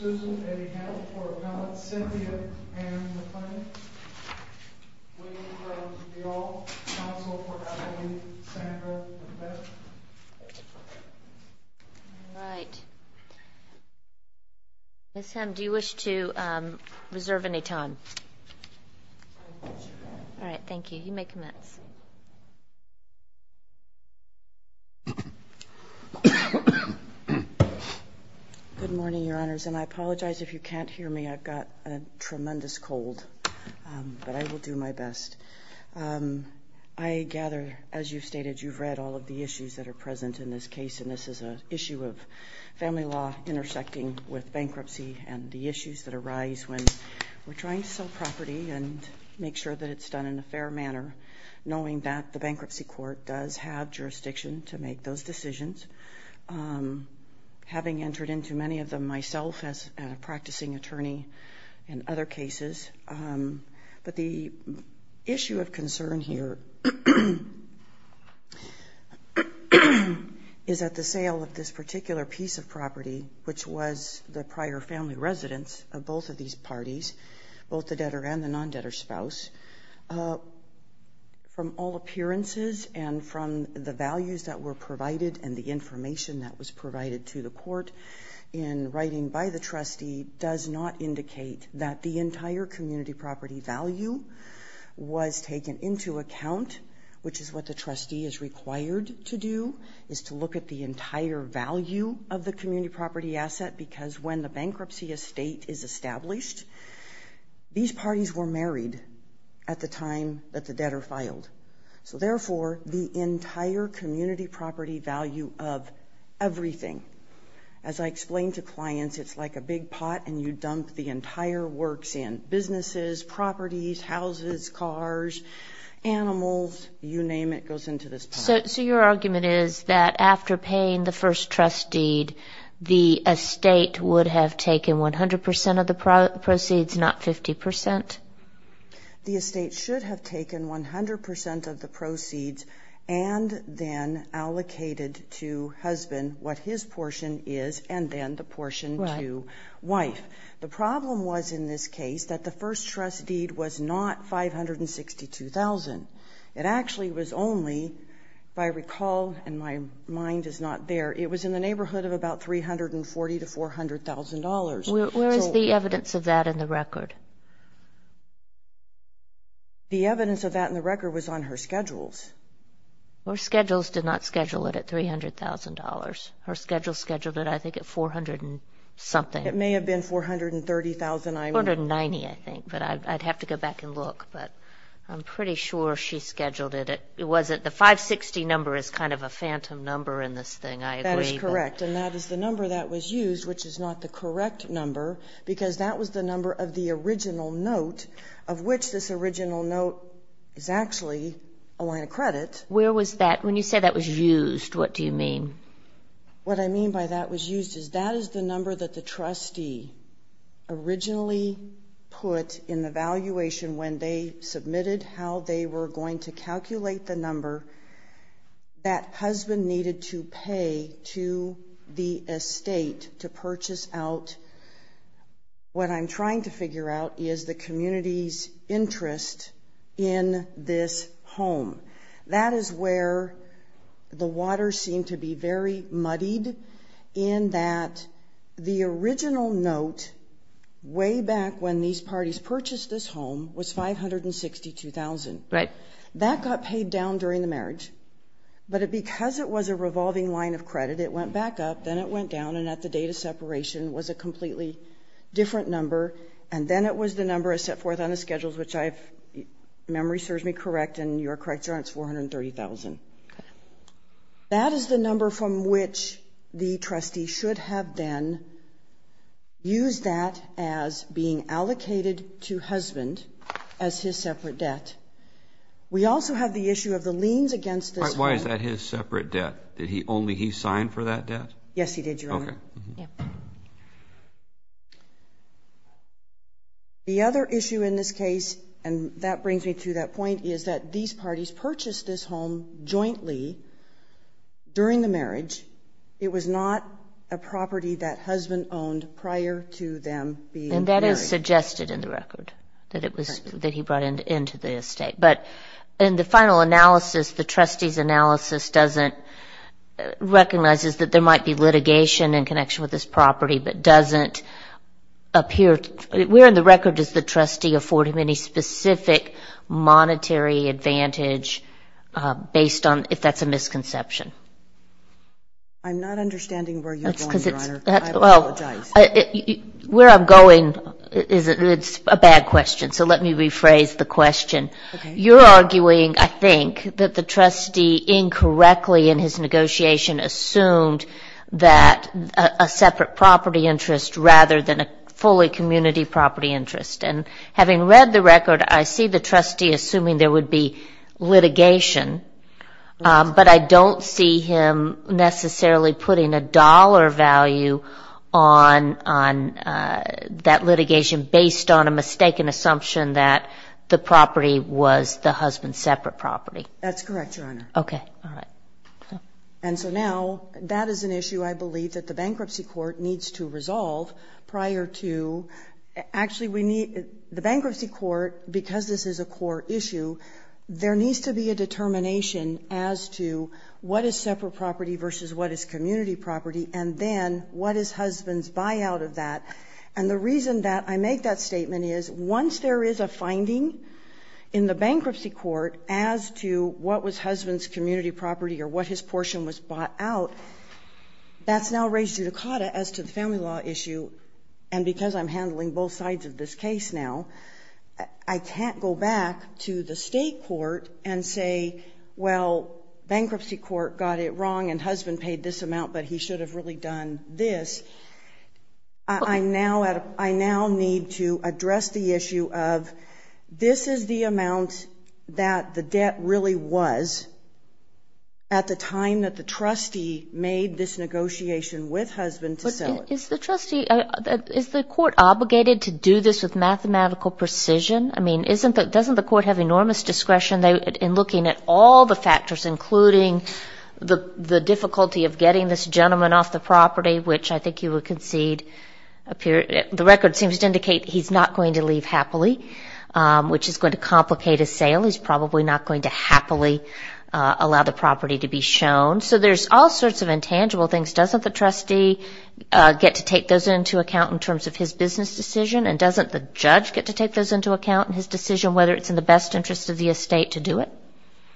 All right, Ms. Hemm, do you wish to reserve any time? All right, thank you. You may commence. Good morning, Your Honors, and I apologize if you can't hear me. I've got a tremendous cold, but I will do my best. I gather, as you've stated, you've read all of the issues that are present in this case, and this is an issue of family law intersecting with bankruptcy and the issues that arise when we're trying to sell property and make sure that it's done in a fair manner, knowing that the bankruptcy court does have jurisdiction to make those decisions, having entered into many of them myself as a practicing attorney in other cases. But the issue of concern here is that the sale of this particular piece of property, which was the prior family residence of both of these parties, both the debtor and the non-debtor spouse, from all appearances and from the values that were provided and the information that was provided to the court in writing by the trustee does not indicate that the entire community property value was taken into account, which is what the trustee is required to do, is to look at the entire value of the community property asset because when the bankruptcy estate is established, these parties were married at the time that the debtor filed. So therefore, the entire community property value of everything, as I explained to clients, it's like a big pot and you dump the entire works in, businesses, properties, houses, cars, animals, you name it, goes into this pot. So your argument is that after paying the first trust deed, the estate would have taken 100% of the proceeds, not 50%? The estate should have taken 100% of the proceeds and then allocated to husband what his portion is and then the portion to wife. The problem was in this case that the first trust deed was not $562,000. It actually was only, if I recall, and my mind is not there, it was in the neighborhood of about $340,000 to $400,000. Where is the evidence of that in the record? The evidence of that in the record was on her schedules. Her schedules did not schedule it at $300,000. Her schedules scheduled it, I think, at $400,000 something. It may have been $430,000. $490,000, I think, but I'd have to go back and look. But I'm pretty sure she scheduled it. The 560 number is kind of a phantom number in this thing, I agree. That is correct, and that is the number that was used, which is not the correct number because that was the number of the original note of which this original note is actually a line of credit. Where was that? When you say that was used, what do you mean? What I mean by that was used is that is the number that the trustee originally put in the valuation when they submitted how they were going to calculate the number that husband needed to pay to the estate to purchase out what I'm trying to figure out is the community's interest in this home. That is where the waters seem to be very muddied in that the original note way back when these parties purchased this home was $562,000. Right. That got paid down during the marriage. But because it was a revolving line of credit, it went back up, then it went down, and at the date of separation was a completely different number, and then it was the number I set forth on the schedules, which if memory serves me correct and you're correct, it's $430,000. Okay. That is the number from which the trustee should have then used that as being allocated to husband as his separate debt. We also have the issue of the liens against this home. Why is that his separate debt? Only he signed for that debt? Yes, he did, Your Honor. Okay. The other issue in this case, and that brings me to that point, is that these parties purchased this home jointly during the marriage. It was not a property that husband owned prior to them being married. And that is suggested in the record that he brought into the estate. But in the final analysis, the trustee's analysis doesn't recognize that there might be litigation in connection with this property, but doesn't appear. Where in the record does the trustee afford him any specific monetary advantage based on if that's a misconception? I'm not understanding where you're going, Your Honor. I apologize. Where I'm going, it's a bad question, so let me rephrase the question. You're arguing, I think, that the trustee incorrectly in his negotiation assumed that a separate property interest rather than a fully community property interest. And having read the record, I see the trustee assuming there would be litigation, but I don't see him necessarily putting a dollar value on that litigation based on a mistaken assumption that the property was the husband's separate property. That's correct, Your Honor. Okay. All right. And so now that is an issue I believe that the bankruptcy court needs to resolve prior to actually we need the bankruptcy court, because this is a core issue, there needs to be a determination as to what is separate property versus what is community property, and then what does husbands buy out of that. And the reason that I make that statement is once there is a finding in the bought out, that's now raised judicata as to the family law issue, and because I'm handling both sides of this case now, I can't go back to the state court and say, well, bankruptcy court got it wrong and husband paid this amount, but he should have really done this. I now need to address the issue of this is the amount that the debt really was at the time that the trustee made this negotiation with husband to sell it. Is the trustee, is the court obligated to do this with mathematical precision? I mean, doesn't the court have enormous discretion in looking at all the factors, including the difficulty of getting this gentleman off the property, which I think you would concede, the record seems to indicate he's not going to leave happily, which is going to complicate his sale. He's probably not going to happily allow the property to be shown. So there's all sorts of intangible things. Doesn't the trustee get to take those into account in terms of his business decision and doesn't the judge get to take those into account in his decision whether it's in the best interest of the estate to do it?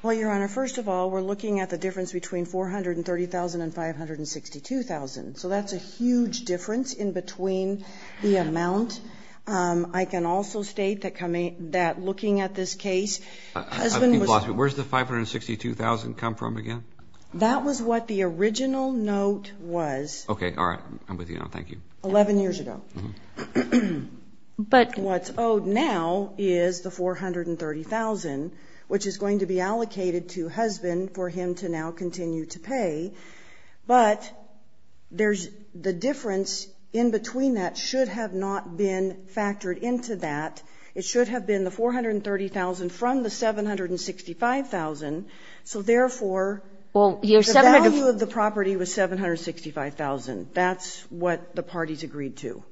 Well, Your Honor, first of all, we're looking at the difference between $430,000 and $562,000. So that's a huge difference in between the amount. I can also state that looking at this case, husband was. Where's the $562,000 come from again? That was what the original note was. Okay. All right. I'm with you now. Thank you. 11 years ago. But what's owed now is the $430,000, which is going to be allocated to husband for him to now continue to pay. But there's the difference in between. That should have not been factored into that. It should have been the $430,000 from the $765,000. So therefore. Well, the value of the property was $765,000. That's what the parties agreed to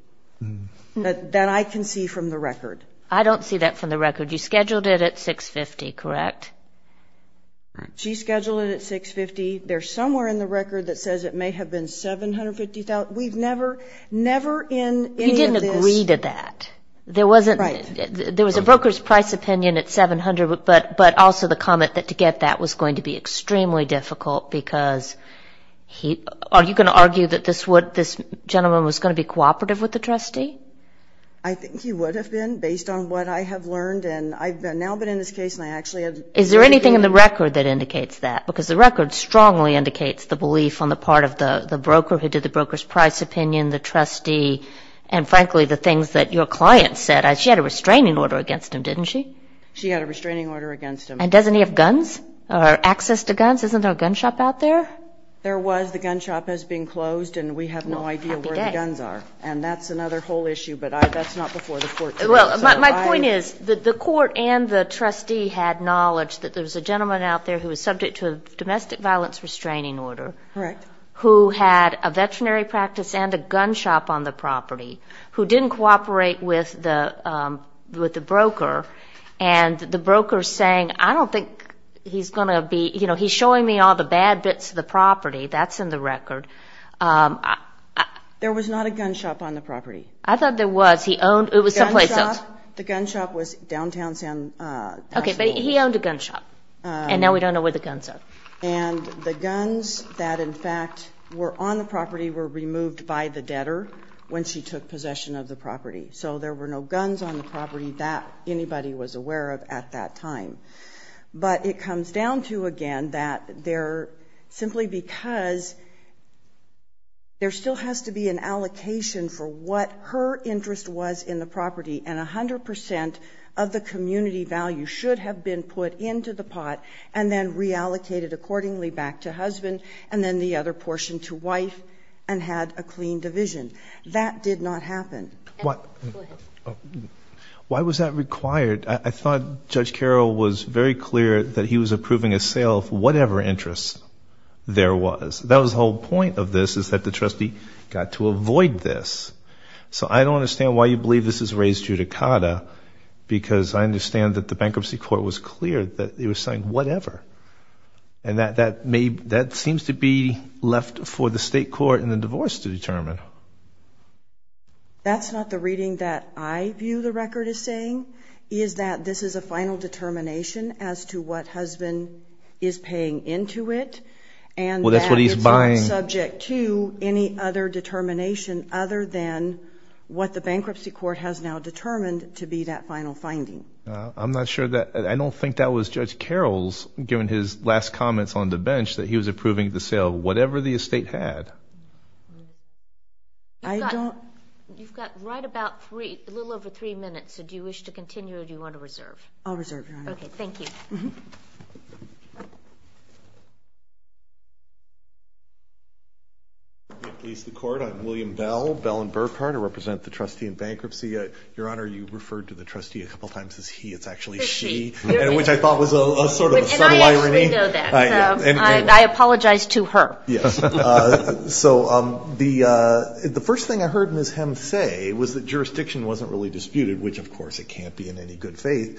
that I can see from the record. I don't see that from the record. You scheduled it at $650,000, correct? She scheduled it at $650,000. There's somewhere in the record that says it may have been $750,000. We've never, never in any of this. You didn't agree to that. Right. There was a broker's price opinion at $700,000, but also the comment that to get that was going to be extremely difficult because are you going to argue that this gentleman was going to be cooperative with the trustee? I think he would have been based on what I have learned. And I've now been in this case and I actually have. Is there anything in the record that indicates that? Because the record strongly indicates the belief on the part of the broker who did the broker's price opinion, the trustee, and frankly the things that your client said. She had a restraining order against him, didn't she? She had a restraining order against him. And doesn't he have guns or access to guns? Isn't there a gun shop out there? There was. The gun shop has been closed and we have no idea where the guns are. And that's another whole issue, but that's not before the court today. Well, my point is that the court and the trustee had knowledge that there was a gentleman out there who was subject to a domestic violence restraining order. Correct. Who had a veterinary practice and a gun shop on the property, who didn't cooperate with the broker, and the broker saying, I don't think he's going to be, you know, he's showing me all the bad bits of the property. That's in the record. There was not a gun shop on the property. I thought there was. The gun shop was downtown. Okay, but he owned a gun shop. And now we don't know where the guns are. And the guns that, in fact, were on the property were removed by the debtor when she took possession of the property. So there were no guns on the property that anybody was aware of at that time. But it comes down to, again, that simply because there still has to be an and 100% of the community value should have been put into the pot and then reallocated accordingly back to husband and then the other portion to wife and had a clean division. That did not happen. Why was that required? I thought Judge Carroll was very clear that he was approving a sale of whatever interest there was. That was the whole point of this is that the trustee got to avoid this. So I don't understand why you believe this is raised judicata because I understand that the bankruptcy court was clear that it was saying whatever. And that seems to be left for the state court and the divorce to determine. That's not the reading that I view the record as saying, is that this is a final determination as to what husband is paying into it. Well, that's what he's buying. It's subject to any other determination other than what the bankruptcy court has now determined to be that final finding. I'm not sure that – I don't think that was Judge Carroll's, given his last comments on the bench, that he was approving the sale of whatever the estate had. You've got right about three – a little over three minutes. So do you wish to continue or do you want to reserve? I'll reserve, Your Honor. Okay, thank you. I'm William Bell, Bell & Burkhart. I represent the trustee in bankruptcy. Your Honor, you referred to the trustee a couple of times as he. It's actually she, which I thought was sort of a subtle irony. And I actually know that. I apologize to her. Yes. So the first thing I heard Ms. Hem say was that jurisdiction wasn't really disputed, which, of course, it can't be in any good faith.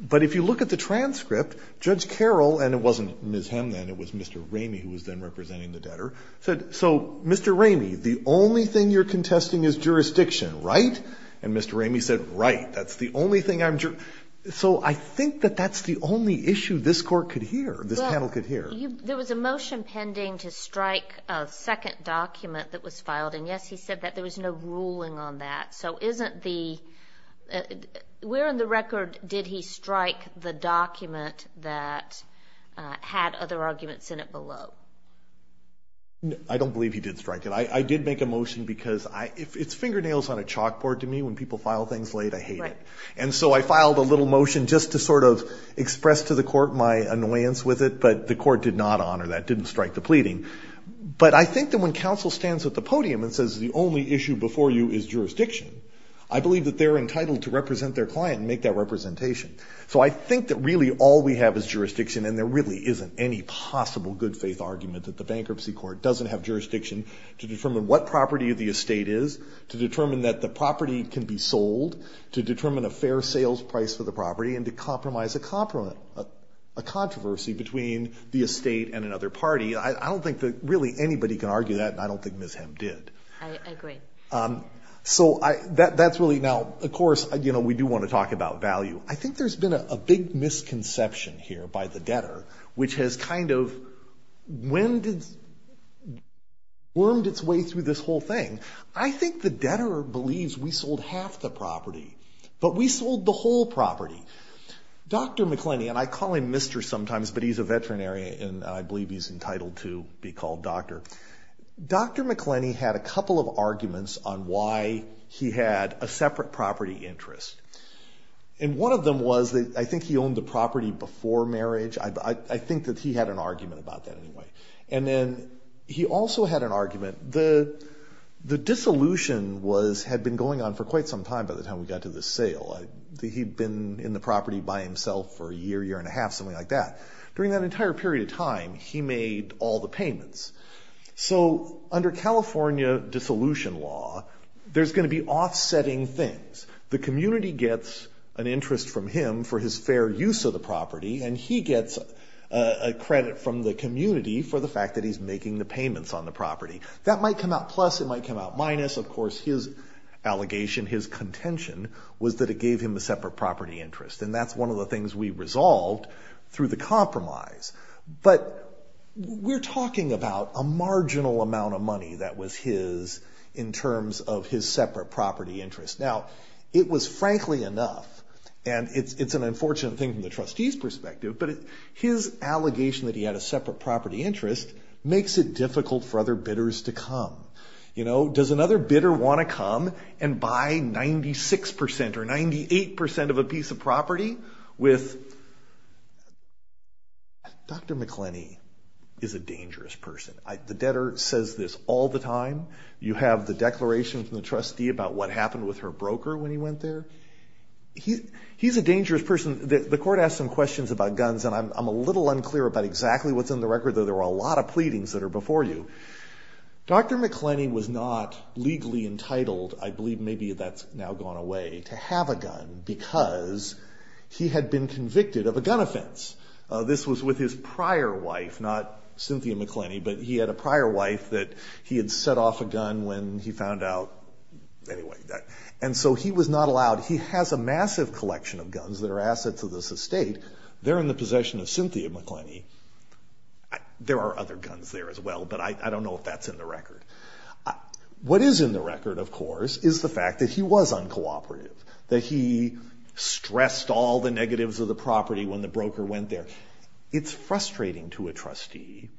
But if you look at the transcript, Judge Carroll – and it wasn't Ms. Hem then, it was Mr. Ramey who was then representing the debtor – said, so, Mr. Ramey, the only thing you're contesting is jurisdiction, right? And Mr. Ramey said, right, that's the only thing I'm – so I think that that's the only issue this court could hear, this panel could hear. There was a motion pending to strike a second document that was filed. And, yes, he said that there was no ruling on that. So isn't the – where in the record did he strike the document that had other arguments in it below? I don't believe he did strike it. I did make a motion because it's fingernails on a chalkboard to me. When people file things late, I hate it. And so I filed a little motion just to sort of express to the court my annoyance with it, but the court did not honor that, didn't strike the pleading. But I think that when counsel stands at the podium and says, the only issue before you is jurisdiction, I believe that they're entitled to represent their client and make that representation. So I think that really all we have is jurisdiction, and there really isn't any possible good-faith argument that the bankruptcy court doesn't have jurisdiction to determine what property the estate is, to determine that the property can be sold, to determine a fair sales price for the property, and to compromise a controversy between the estate and another party. I don't think that really anybody can argue that, and I don't think Ms. Hem did. I agree. So that's really, now, of course, you know, we do want to talk about value. I think there's been a big misconception here by the debtor, which has kind of whirmed its way through this whole thing. I think the debtor believes we sold half the property, but we sold the whole property. Dr. McClenney, and I call him Mr. sometimes, but he's a veterinary, and I believe he's entitled to be called doctor. Dr. McClenney had a couple of arguments on why he had a separate property interest, and one of them was that I think he owned the property before marriage. I think that he had an argument about that anyway. And then he also had an argument. The dissolution had been going on for quite some time by the time we got to the sale. He'd been in the property by himself for a year, year and a half, something like that. During that entire period of time, he made all the payments. So under California dissolution law, there's going to be offsetting things. The community gets an interest from him for his fair use of the property, and he gets a credit from the community for the fact that he's making the payments on the property. That might come out plus, it might come out minus. Of course, his allegation, his contention, was that it gave him a separate property interest, and that's one of the things we resolved through the compromise. But we're talking about a marginal amount of money that was his in terms of his separate property interest. Now, it was frankly enough, and it's an unfortunate thing from the trustee's perspective, but his allegation that he had a separate property interest makes it difficult for other bidders to come. Does another bidder want to come and buy 96% or 98% of a piece of property? Dr. McClenney is a dangerous person. The debtor says this all the time. You have the declaration from the trustee about what happened with her broker when he went there. He's a dangerous person. The court asked him questions about guns, and I'm a little unclear about exactly what's in the record, though there were a lot of pleadings that are before you. Dr. McClenney was not legally entitled, I believe maybe that's now gone away, to have a gun because he had been convicted of a gun offense. This was with his prior wife, not Cynthia McClenney, but he had a prior wife that he had set off a gun when he found out. And so he was not allowed. He has a massive collection of guns that are assets of this estate. They're in the possession of Cynthia McClenney. There are other guns there as well, but I don't know if that's in the record. What is in the record, of course, is the fact that he was uncooperative, that he stressed all the negatives of the property when the broker went there. It's frustrating to a trustee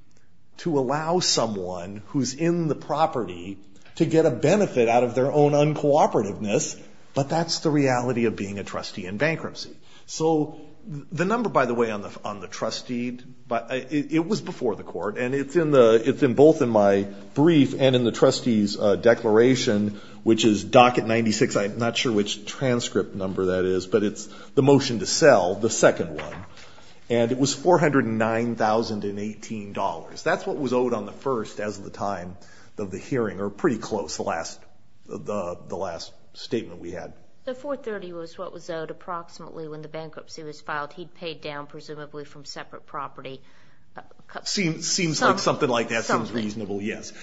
to allow someone who's in the property to get a benefit out of their own uncooperativeness, but that's the reality of being a trustee in bankruptcy. So the number, by the way, on the trustee, it was before the court, and it's both in my brief and in the trustee's declaration, which is docket 96, I'm not sure which transcript number that is, but it's the motion to sell, the second one, and it was $409,018. That's what was owed on the first as of the time of the hearing, or pretty close, the last statement we had. The 430 was what was owed approximately when the bankruptcy was filed. He'd paid down presumably from separate property. Seems like something like that seems reasonable, yes.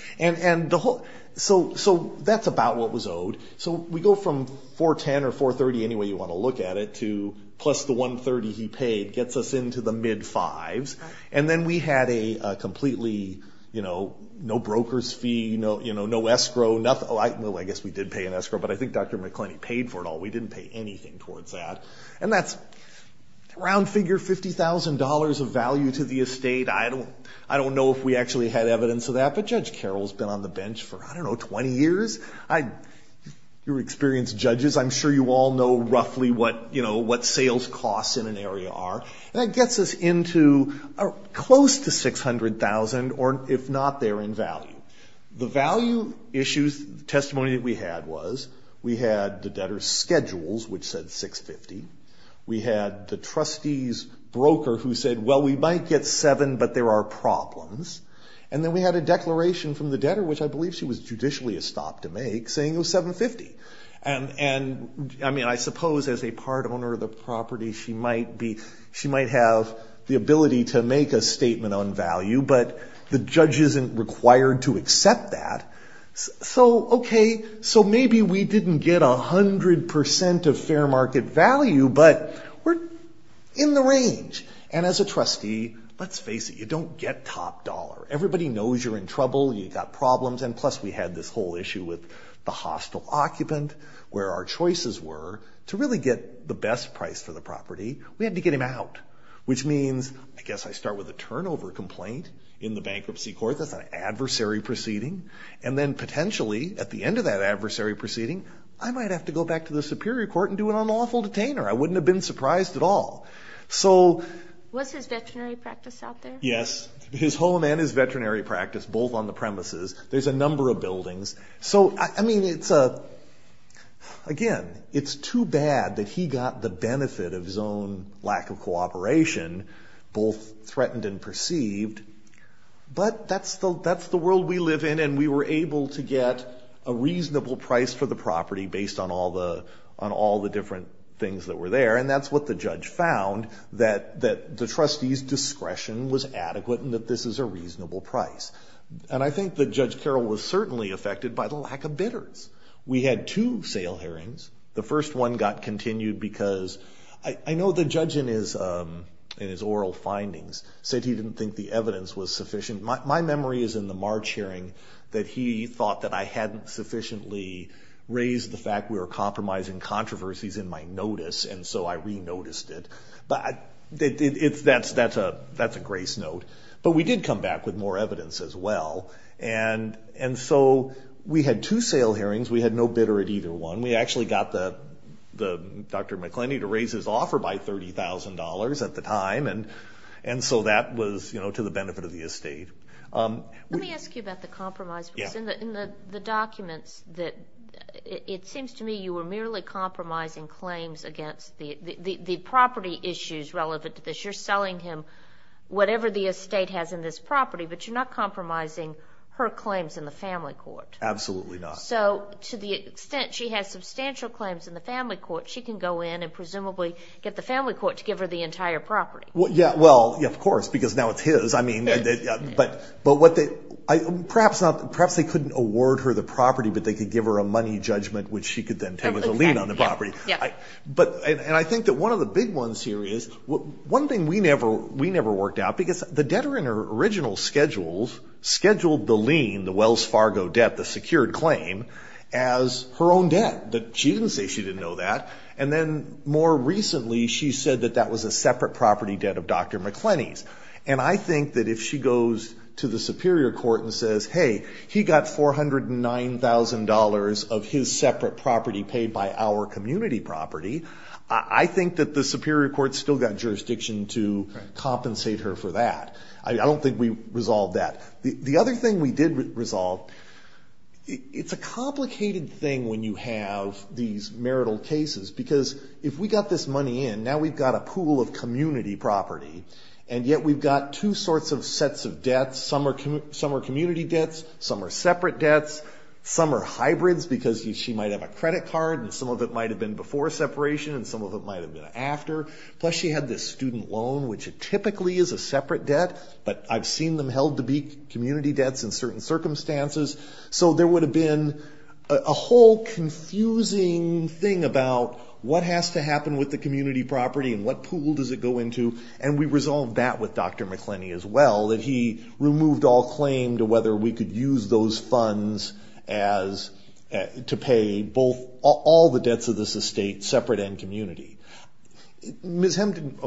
So that's about what was owed. So we go from 410 or 430, any way you want to look at it, to plus the 130 he paid gets us into the mid fives, and then we had a completely no broker's fee, no escrow. No, I guess we did pay an escrow, but I think Dr. McClenney paid for it all. We didn't pay anything towards that, and that's around figure $50,000 of value to the estate. I don't know if we actually had evidence of that, but Judge Carroll's been on the bench for, I don't know, 20 years. You're experienced judges. I'm sure you all know roughly what sales costs in an area are, and that gets us into close to $600,000, or if not, they're in value. The value issues testimony that we had was we had the debtor's schedules, which said $650,000. We had the trustee's broker who said, well, we might get $700,000, but there are problems. And then we had a declaration from the debtor, which I believe she was judicially estopped to make, saying it was $750,000. And, I mean, I suppose as a part owner of the property, she might have the ability to make a statement on value, but the judge isn't required to accept that. So, okay, so maybe we didn't get 100% of fair market value, but we're in the range. And as a trustee, let's face it, you don't get top dollar. Everybody knows you're in trouble, you've got problems, and plus we had this whole issue with the hostile occupant, where our choices were to really get the best price for the property, we had to get him out, which means, I guess I start with a turnover complaint in the bankruptcy court, that's an adversary proceeding, and then potentially at the end of that adversary proceeding, I might have to go back to the superior court and do an unlawful detainer. I wouldn't have been surprised at all. So... Was his veterinary practice out there? Yes, his home and his veterinary practice, both on the premises. There's a number of buildings. So, I mean, it's a, again, it's too bad that he got the benefit of his own lack of cooperation, both threatened and perceived, but that's the world we live in, and we were able to get a reasonable price for the property based on all the different things that were there, and that's what the judge found, that the trustee's discretion was adequate and that this is a reasonable price. And I think that Judge Carroll was certainly affected by the lack of bidders. We had two sale hearings. The first one got continued because... I know the judge in his oral findings said he didn't think the evidence was sufficient. My memory is in the March hearing that he thought that I hadn't sufficiently raised the fact we were compromising controversies in my notice, and so I re-noticed it. But that's a grace note. But we did come back with more evidence as well, and so we had two sale hearings. We had no bidder at either one. We actually got Dr. McClendon to raise his offer by $30,000 at the time, and so that was to the benefit of the estate. Let me ask you about the compromise. In the documents, it seems to me you were merely compromising claims against the property issues relevant to this. You're selling him whatever the estate has in this property, but you're not compromising her claims in the family court. Absolutely not. So to the extent she has substantial claims in the family court, she can go in and presumably get the family court to give her the entire property. Yeah, well, of course, because now it's his. But perhaps they couldn't award her the property, but they could give her a money judgment, which she could then take as a lien on the property. And I think that one of the big ones here is, one thing we never worked out, because the debtor in her original schedules scheduled the lien, the Wells Fargo debt, the secured claim, as her own debt. She didn't say she didn't know that. And then more recently she said that that was a separate property debt of Dr. McClenny's. And I think that if she goes to the Superior Court and says, hey, he got $409,000 of his separate property paid by our community property, I think that the Superior Court's still got jurisdiction to compensate her for that. I don't think we resolved that. The other thing we did resolve, it's a complicated thing when you have these marital cases, because if we got this money in, now we've got a pool of community property, and yet we've got two sorts of sets of debts. Some are community debts, some are separate debts, some are hybrids because she might have a credit card and some of it might have been before separation and some of it might have been after. Plus she had this student loan, which typically is a separate debt, but I've seen them held to be community debts in certain circumstances. So there would have been a whole confusing thing about what has to happen with the community property and what pool does it go into, and we resolved that with Dr. McClenny as well, that he removed all claim to whether we could use those funds to pay all the debts of this estate separate and community. Ms. Hemden.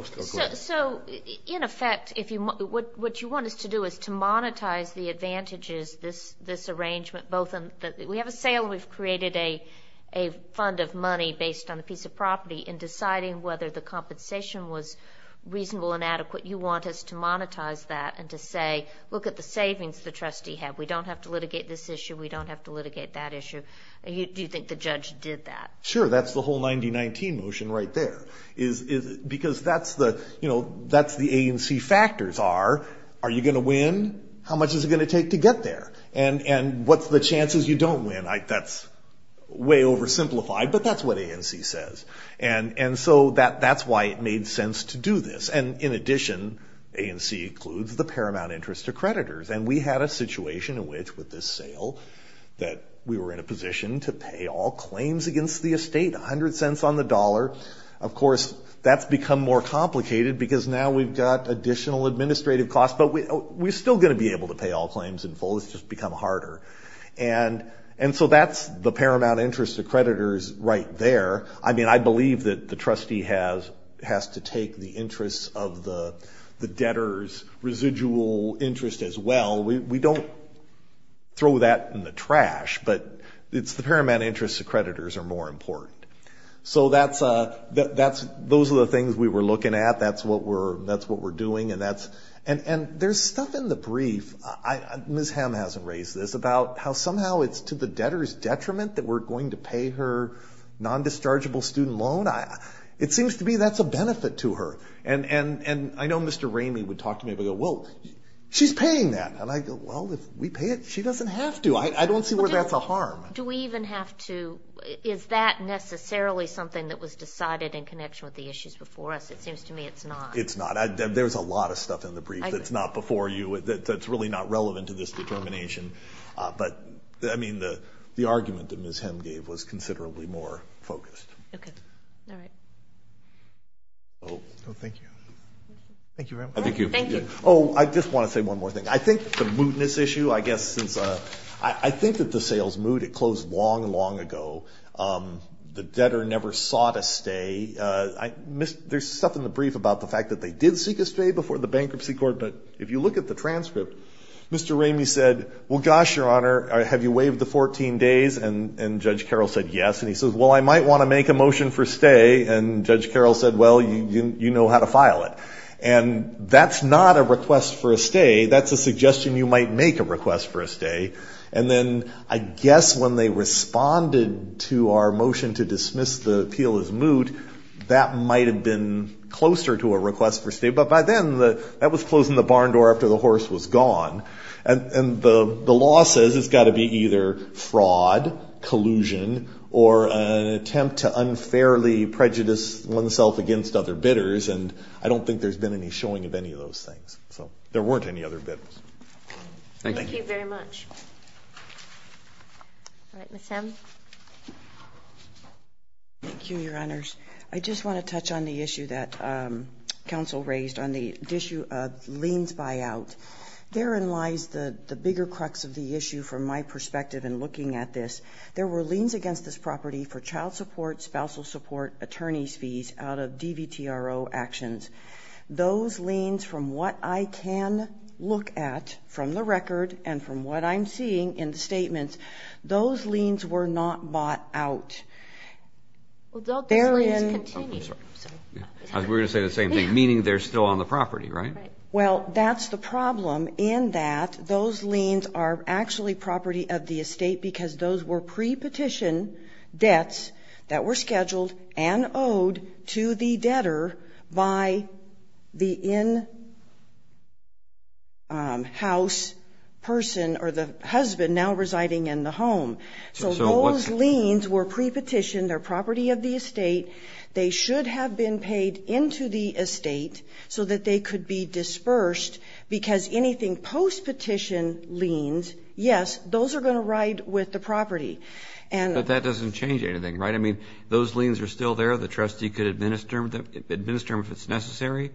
So, in effect, what you want us to do is to monetize the advantages of this arrangement. We have a sale and we've created a fund of money based on a piece of property, and deciding whether the compensation was reasonable and adequate, you want us to monetize that and to say, look at the savings the trustee had. We don't have to litigate this issue. We don't have to litigate that issue. Do you think the judge did that? Sure, that's the whole 90-19 motion right there. Because that's the ANC factors are, are you going to win? How much is it going to take to get there? And what's the chances you don't win? That's way oversimplified, but that's what ANC says. And so that's why it made sense to do this. And in addition, ANC includes the paramount interest to creditors, and we had a situation in which, with this sale, that we were in a position to pay all claims against the estate, 100 cents on the dollar. Of course, that's become more complicated because now we've got additional administrative costs, but we're still going to be able to pay all claims in full. It's just become harder. And so that's the paramount interest to creditors right there. I mean, I believe that the trustee has to take the interests of the debtor's residual interest as well. We don't throw that in the trash, but it's the paramount interest to creditors are more important. So those are the things we were looking at. That's what we're doing, and there's stuff in the brief. Ms. Hamm hasn't raised this, about how somehow it's to the debtor's detriment that we're going to pay her non-dischargeable student loan. It seems to me that's a benefit to her. And I know Mr. Ramey would talk to me and go, well, she's paying that. And I go, well, if we pay it, she doesn't have to. I don't see where that's a harm. Do we even have to? Is that necessarily something that was decided in connection with the issues before us? It seems to me it's not. It's not. There's a lot of stuff in the brief that's not before you that's really not relevant to this determination. But, I mean, the argument that Ms. Hamm gave was considerably more focused. Okay. All right. Oh, thank you. Thank you very much. Thank you. Oh, I just want to say one more thing. I think the mootness issue, I guess, since I think that the sales moot, it closed long, long ago. The debtor never sought a stay. There's stuff in the brief about the fact that they did seek a stay before the bankruptcy court. But if you look at the transcript, Mr. Ramey said, well, gosh, Your Honor, have you waived the 14 days? And Judge Carroll said yes. And he says, well, I might want to make a motion for stay. And Judge Carroll said, well, you know how to file it. And that's not a request for a stay. That's a suggestion you might make a request for a stay. And then I guess when they responded to our motion to dismiss the appeal as moot, that might have been closer to a request for stay. But by then, that was closing the barn door after the horse was gone. And the law says it's got to be either fraud, collusion, or an attempt to unfairly prejudice oneself against other bidders. And I don't think there's been any showing of any of those things. So there weren't any other bidders. Thank you. Thank you very much. All right, Ms. Hemm. Thank you, Your Honors. I just want to touch on the issue that counsel raised on the issue of liens buyout. Therein lies the bigger crux of the issue from my perspective in looking at this. There were liens against this property for child support, spousal support, attorney's fees out of DVTRO actions. Those liens, from what I can look at from the record and from what I'm seeing in the statements, those liens were not bought out. Well, don't those liens continue? I was going to say the same thing, meaning they're still on the property, right? Right. Well, that's the problem in that those liens are actually property of the estate because those were pre-petition debts that were scheduled and owed to the debtor by the in-house person or the husband now residing in the home. So those liens were pre-petitioned. They're property of the estate. They should have been paid into the estate so that they could be dispersed because anything post-petition liens, yes, those are going to ride with the property. But that doesn't change anything, right? I mean, those liens are still there. The trustee could administer them if it's necessary.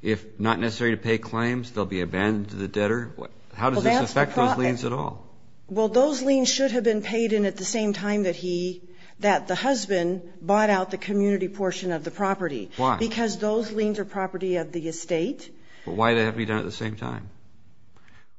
If not necessary to pay claims, they'll be abandoned to the debtor. How does this affect those liens at all? Well, those liens should have been paid in at the same time that the husband bought out the community portion of the property. Why? Because those liens are property of the estate. But why did it have to be done at the same time?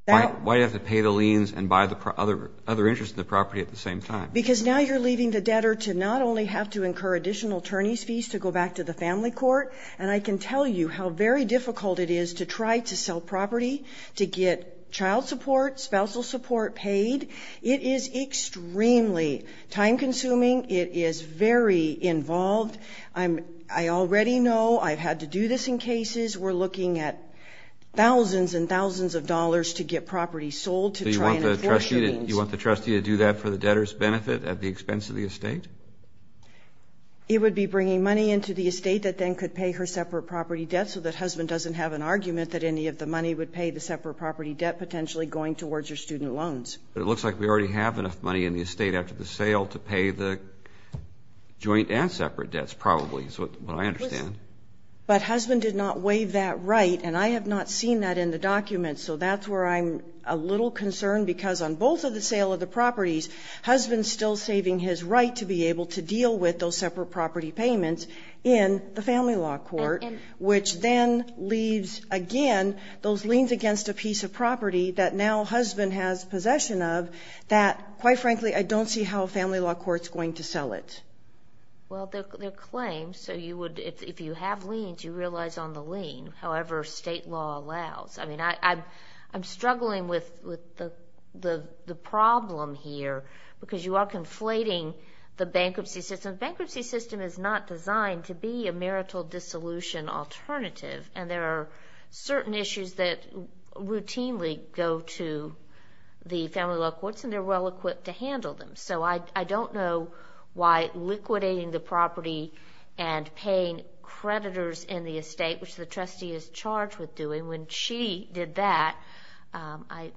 Why did it have to pay the liens and buy other interest in the property at the same time? Because now you're leaving the debtor to not only have to incur additional attorneys' fees to go back to the family court, and I can tell you how very difficult it is to try to sell property, to get child support, spousal support paid. It is extremely time-consuming. It is very involved. I already know I've had to do this in cases. We're looking at thousands and thousands of dollars to get property sold to try and enforce the liens. So you want the trustee to do that for the debtor's benefit at the expense of the estate? It would be bringing money into the estate that then could pay her separate property debt so that husband doesn't have an argument that any of the money would pay the separate property debt potentially going towards her student loans. But it looks like we already have enough money in the estate after the sale to pay the joint and separate debts, probably, is what I understand. But husband did not waive that right, and I have not seen that in the documents. So that's where I'm a little concerned because on both of the sale of the properties, husband's still saving his right to be able to deal with those separate property payments in the family law court, which then leaves, again, those liens against a piece of property that now husband has possession of that, quite frankly, I don't see how a family law court's going to sell it. Well, they're claims, so if you have liens, you realize on the lien, however state law allows. I mean, I'm struggling with the problem here because you are conflating the bankruptcy system. The bankruptcy system is not designed to be a marital dissolution alternative, and there are certain issues that routinely go to the family law courts, and they're well-equipped to handle them. So I don't know why liquidating the property and paying creditors in the estate, which the trustee is charged with doing, when she did that, I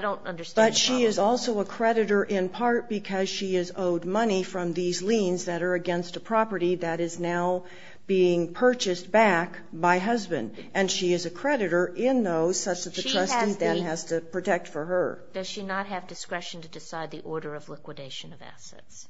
don't understand the problem. But she is also a creditor in part because she is owed money from these liens that are against a property that is now being purchased back by husband, and she is a creditor in those such that the trustee then has to protect for her. Does she not have discretion to decide the order of liquidation of assets?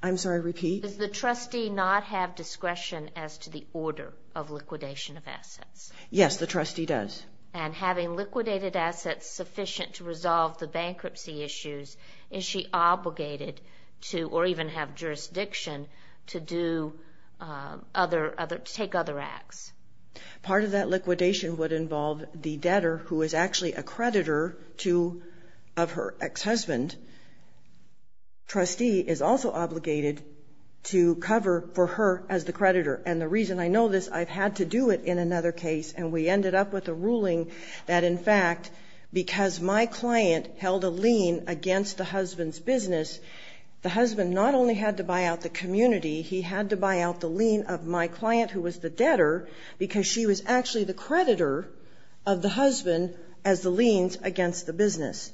I'm sorry, repeat? Does the trustee not have discretion as to the order of liquidation of assets? Yes, the trustee does. And having liquidated assets sufficient to resolve the bankruptcy issues, is she obligated to or even have jurisdiction to take other acts? Part of that liquidation would involve the debtor who is actually a creditor of her ex-husband. Trustee is also obligated to cover for her as the creditor. And the reason I know this, I've had to do it in another case, and we ended up with a ruling that in fact because my client held a lien against the husband's business, the husband not only had to buy out the community, he had to buy out the lien of my client who was the debtor because she was actually the creditor of the husband as the liens against the business.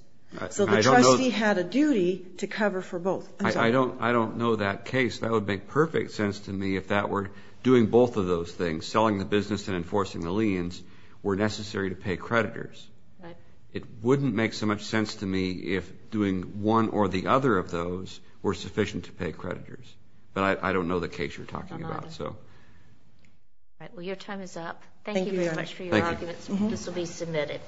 So the trustee had a duty to cover for both. I don't know that case. That would make perfect sense to me if that were doing both of those things, selling the business and enforcing the liens, were necessary to pay creditors. It wouldn't make so much sense to me if doing one or the other of those were sufficient to pay creditors. But I don't know the case you're talking about. All right. Well, your time is up. Thank you very much for your arguments. This will be submitted.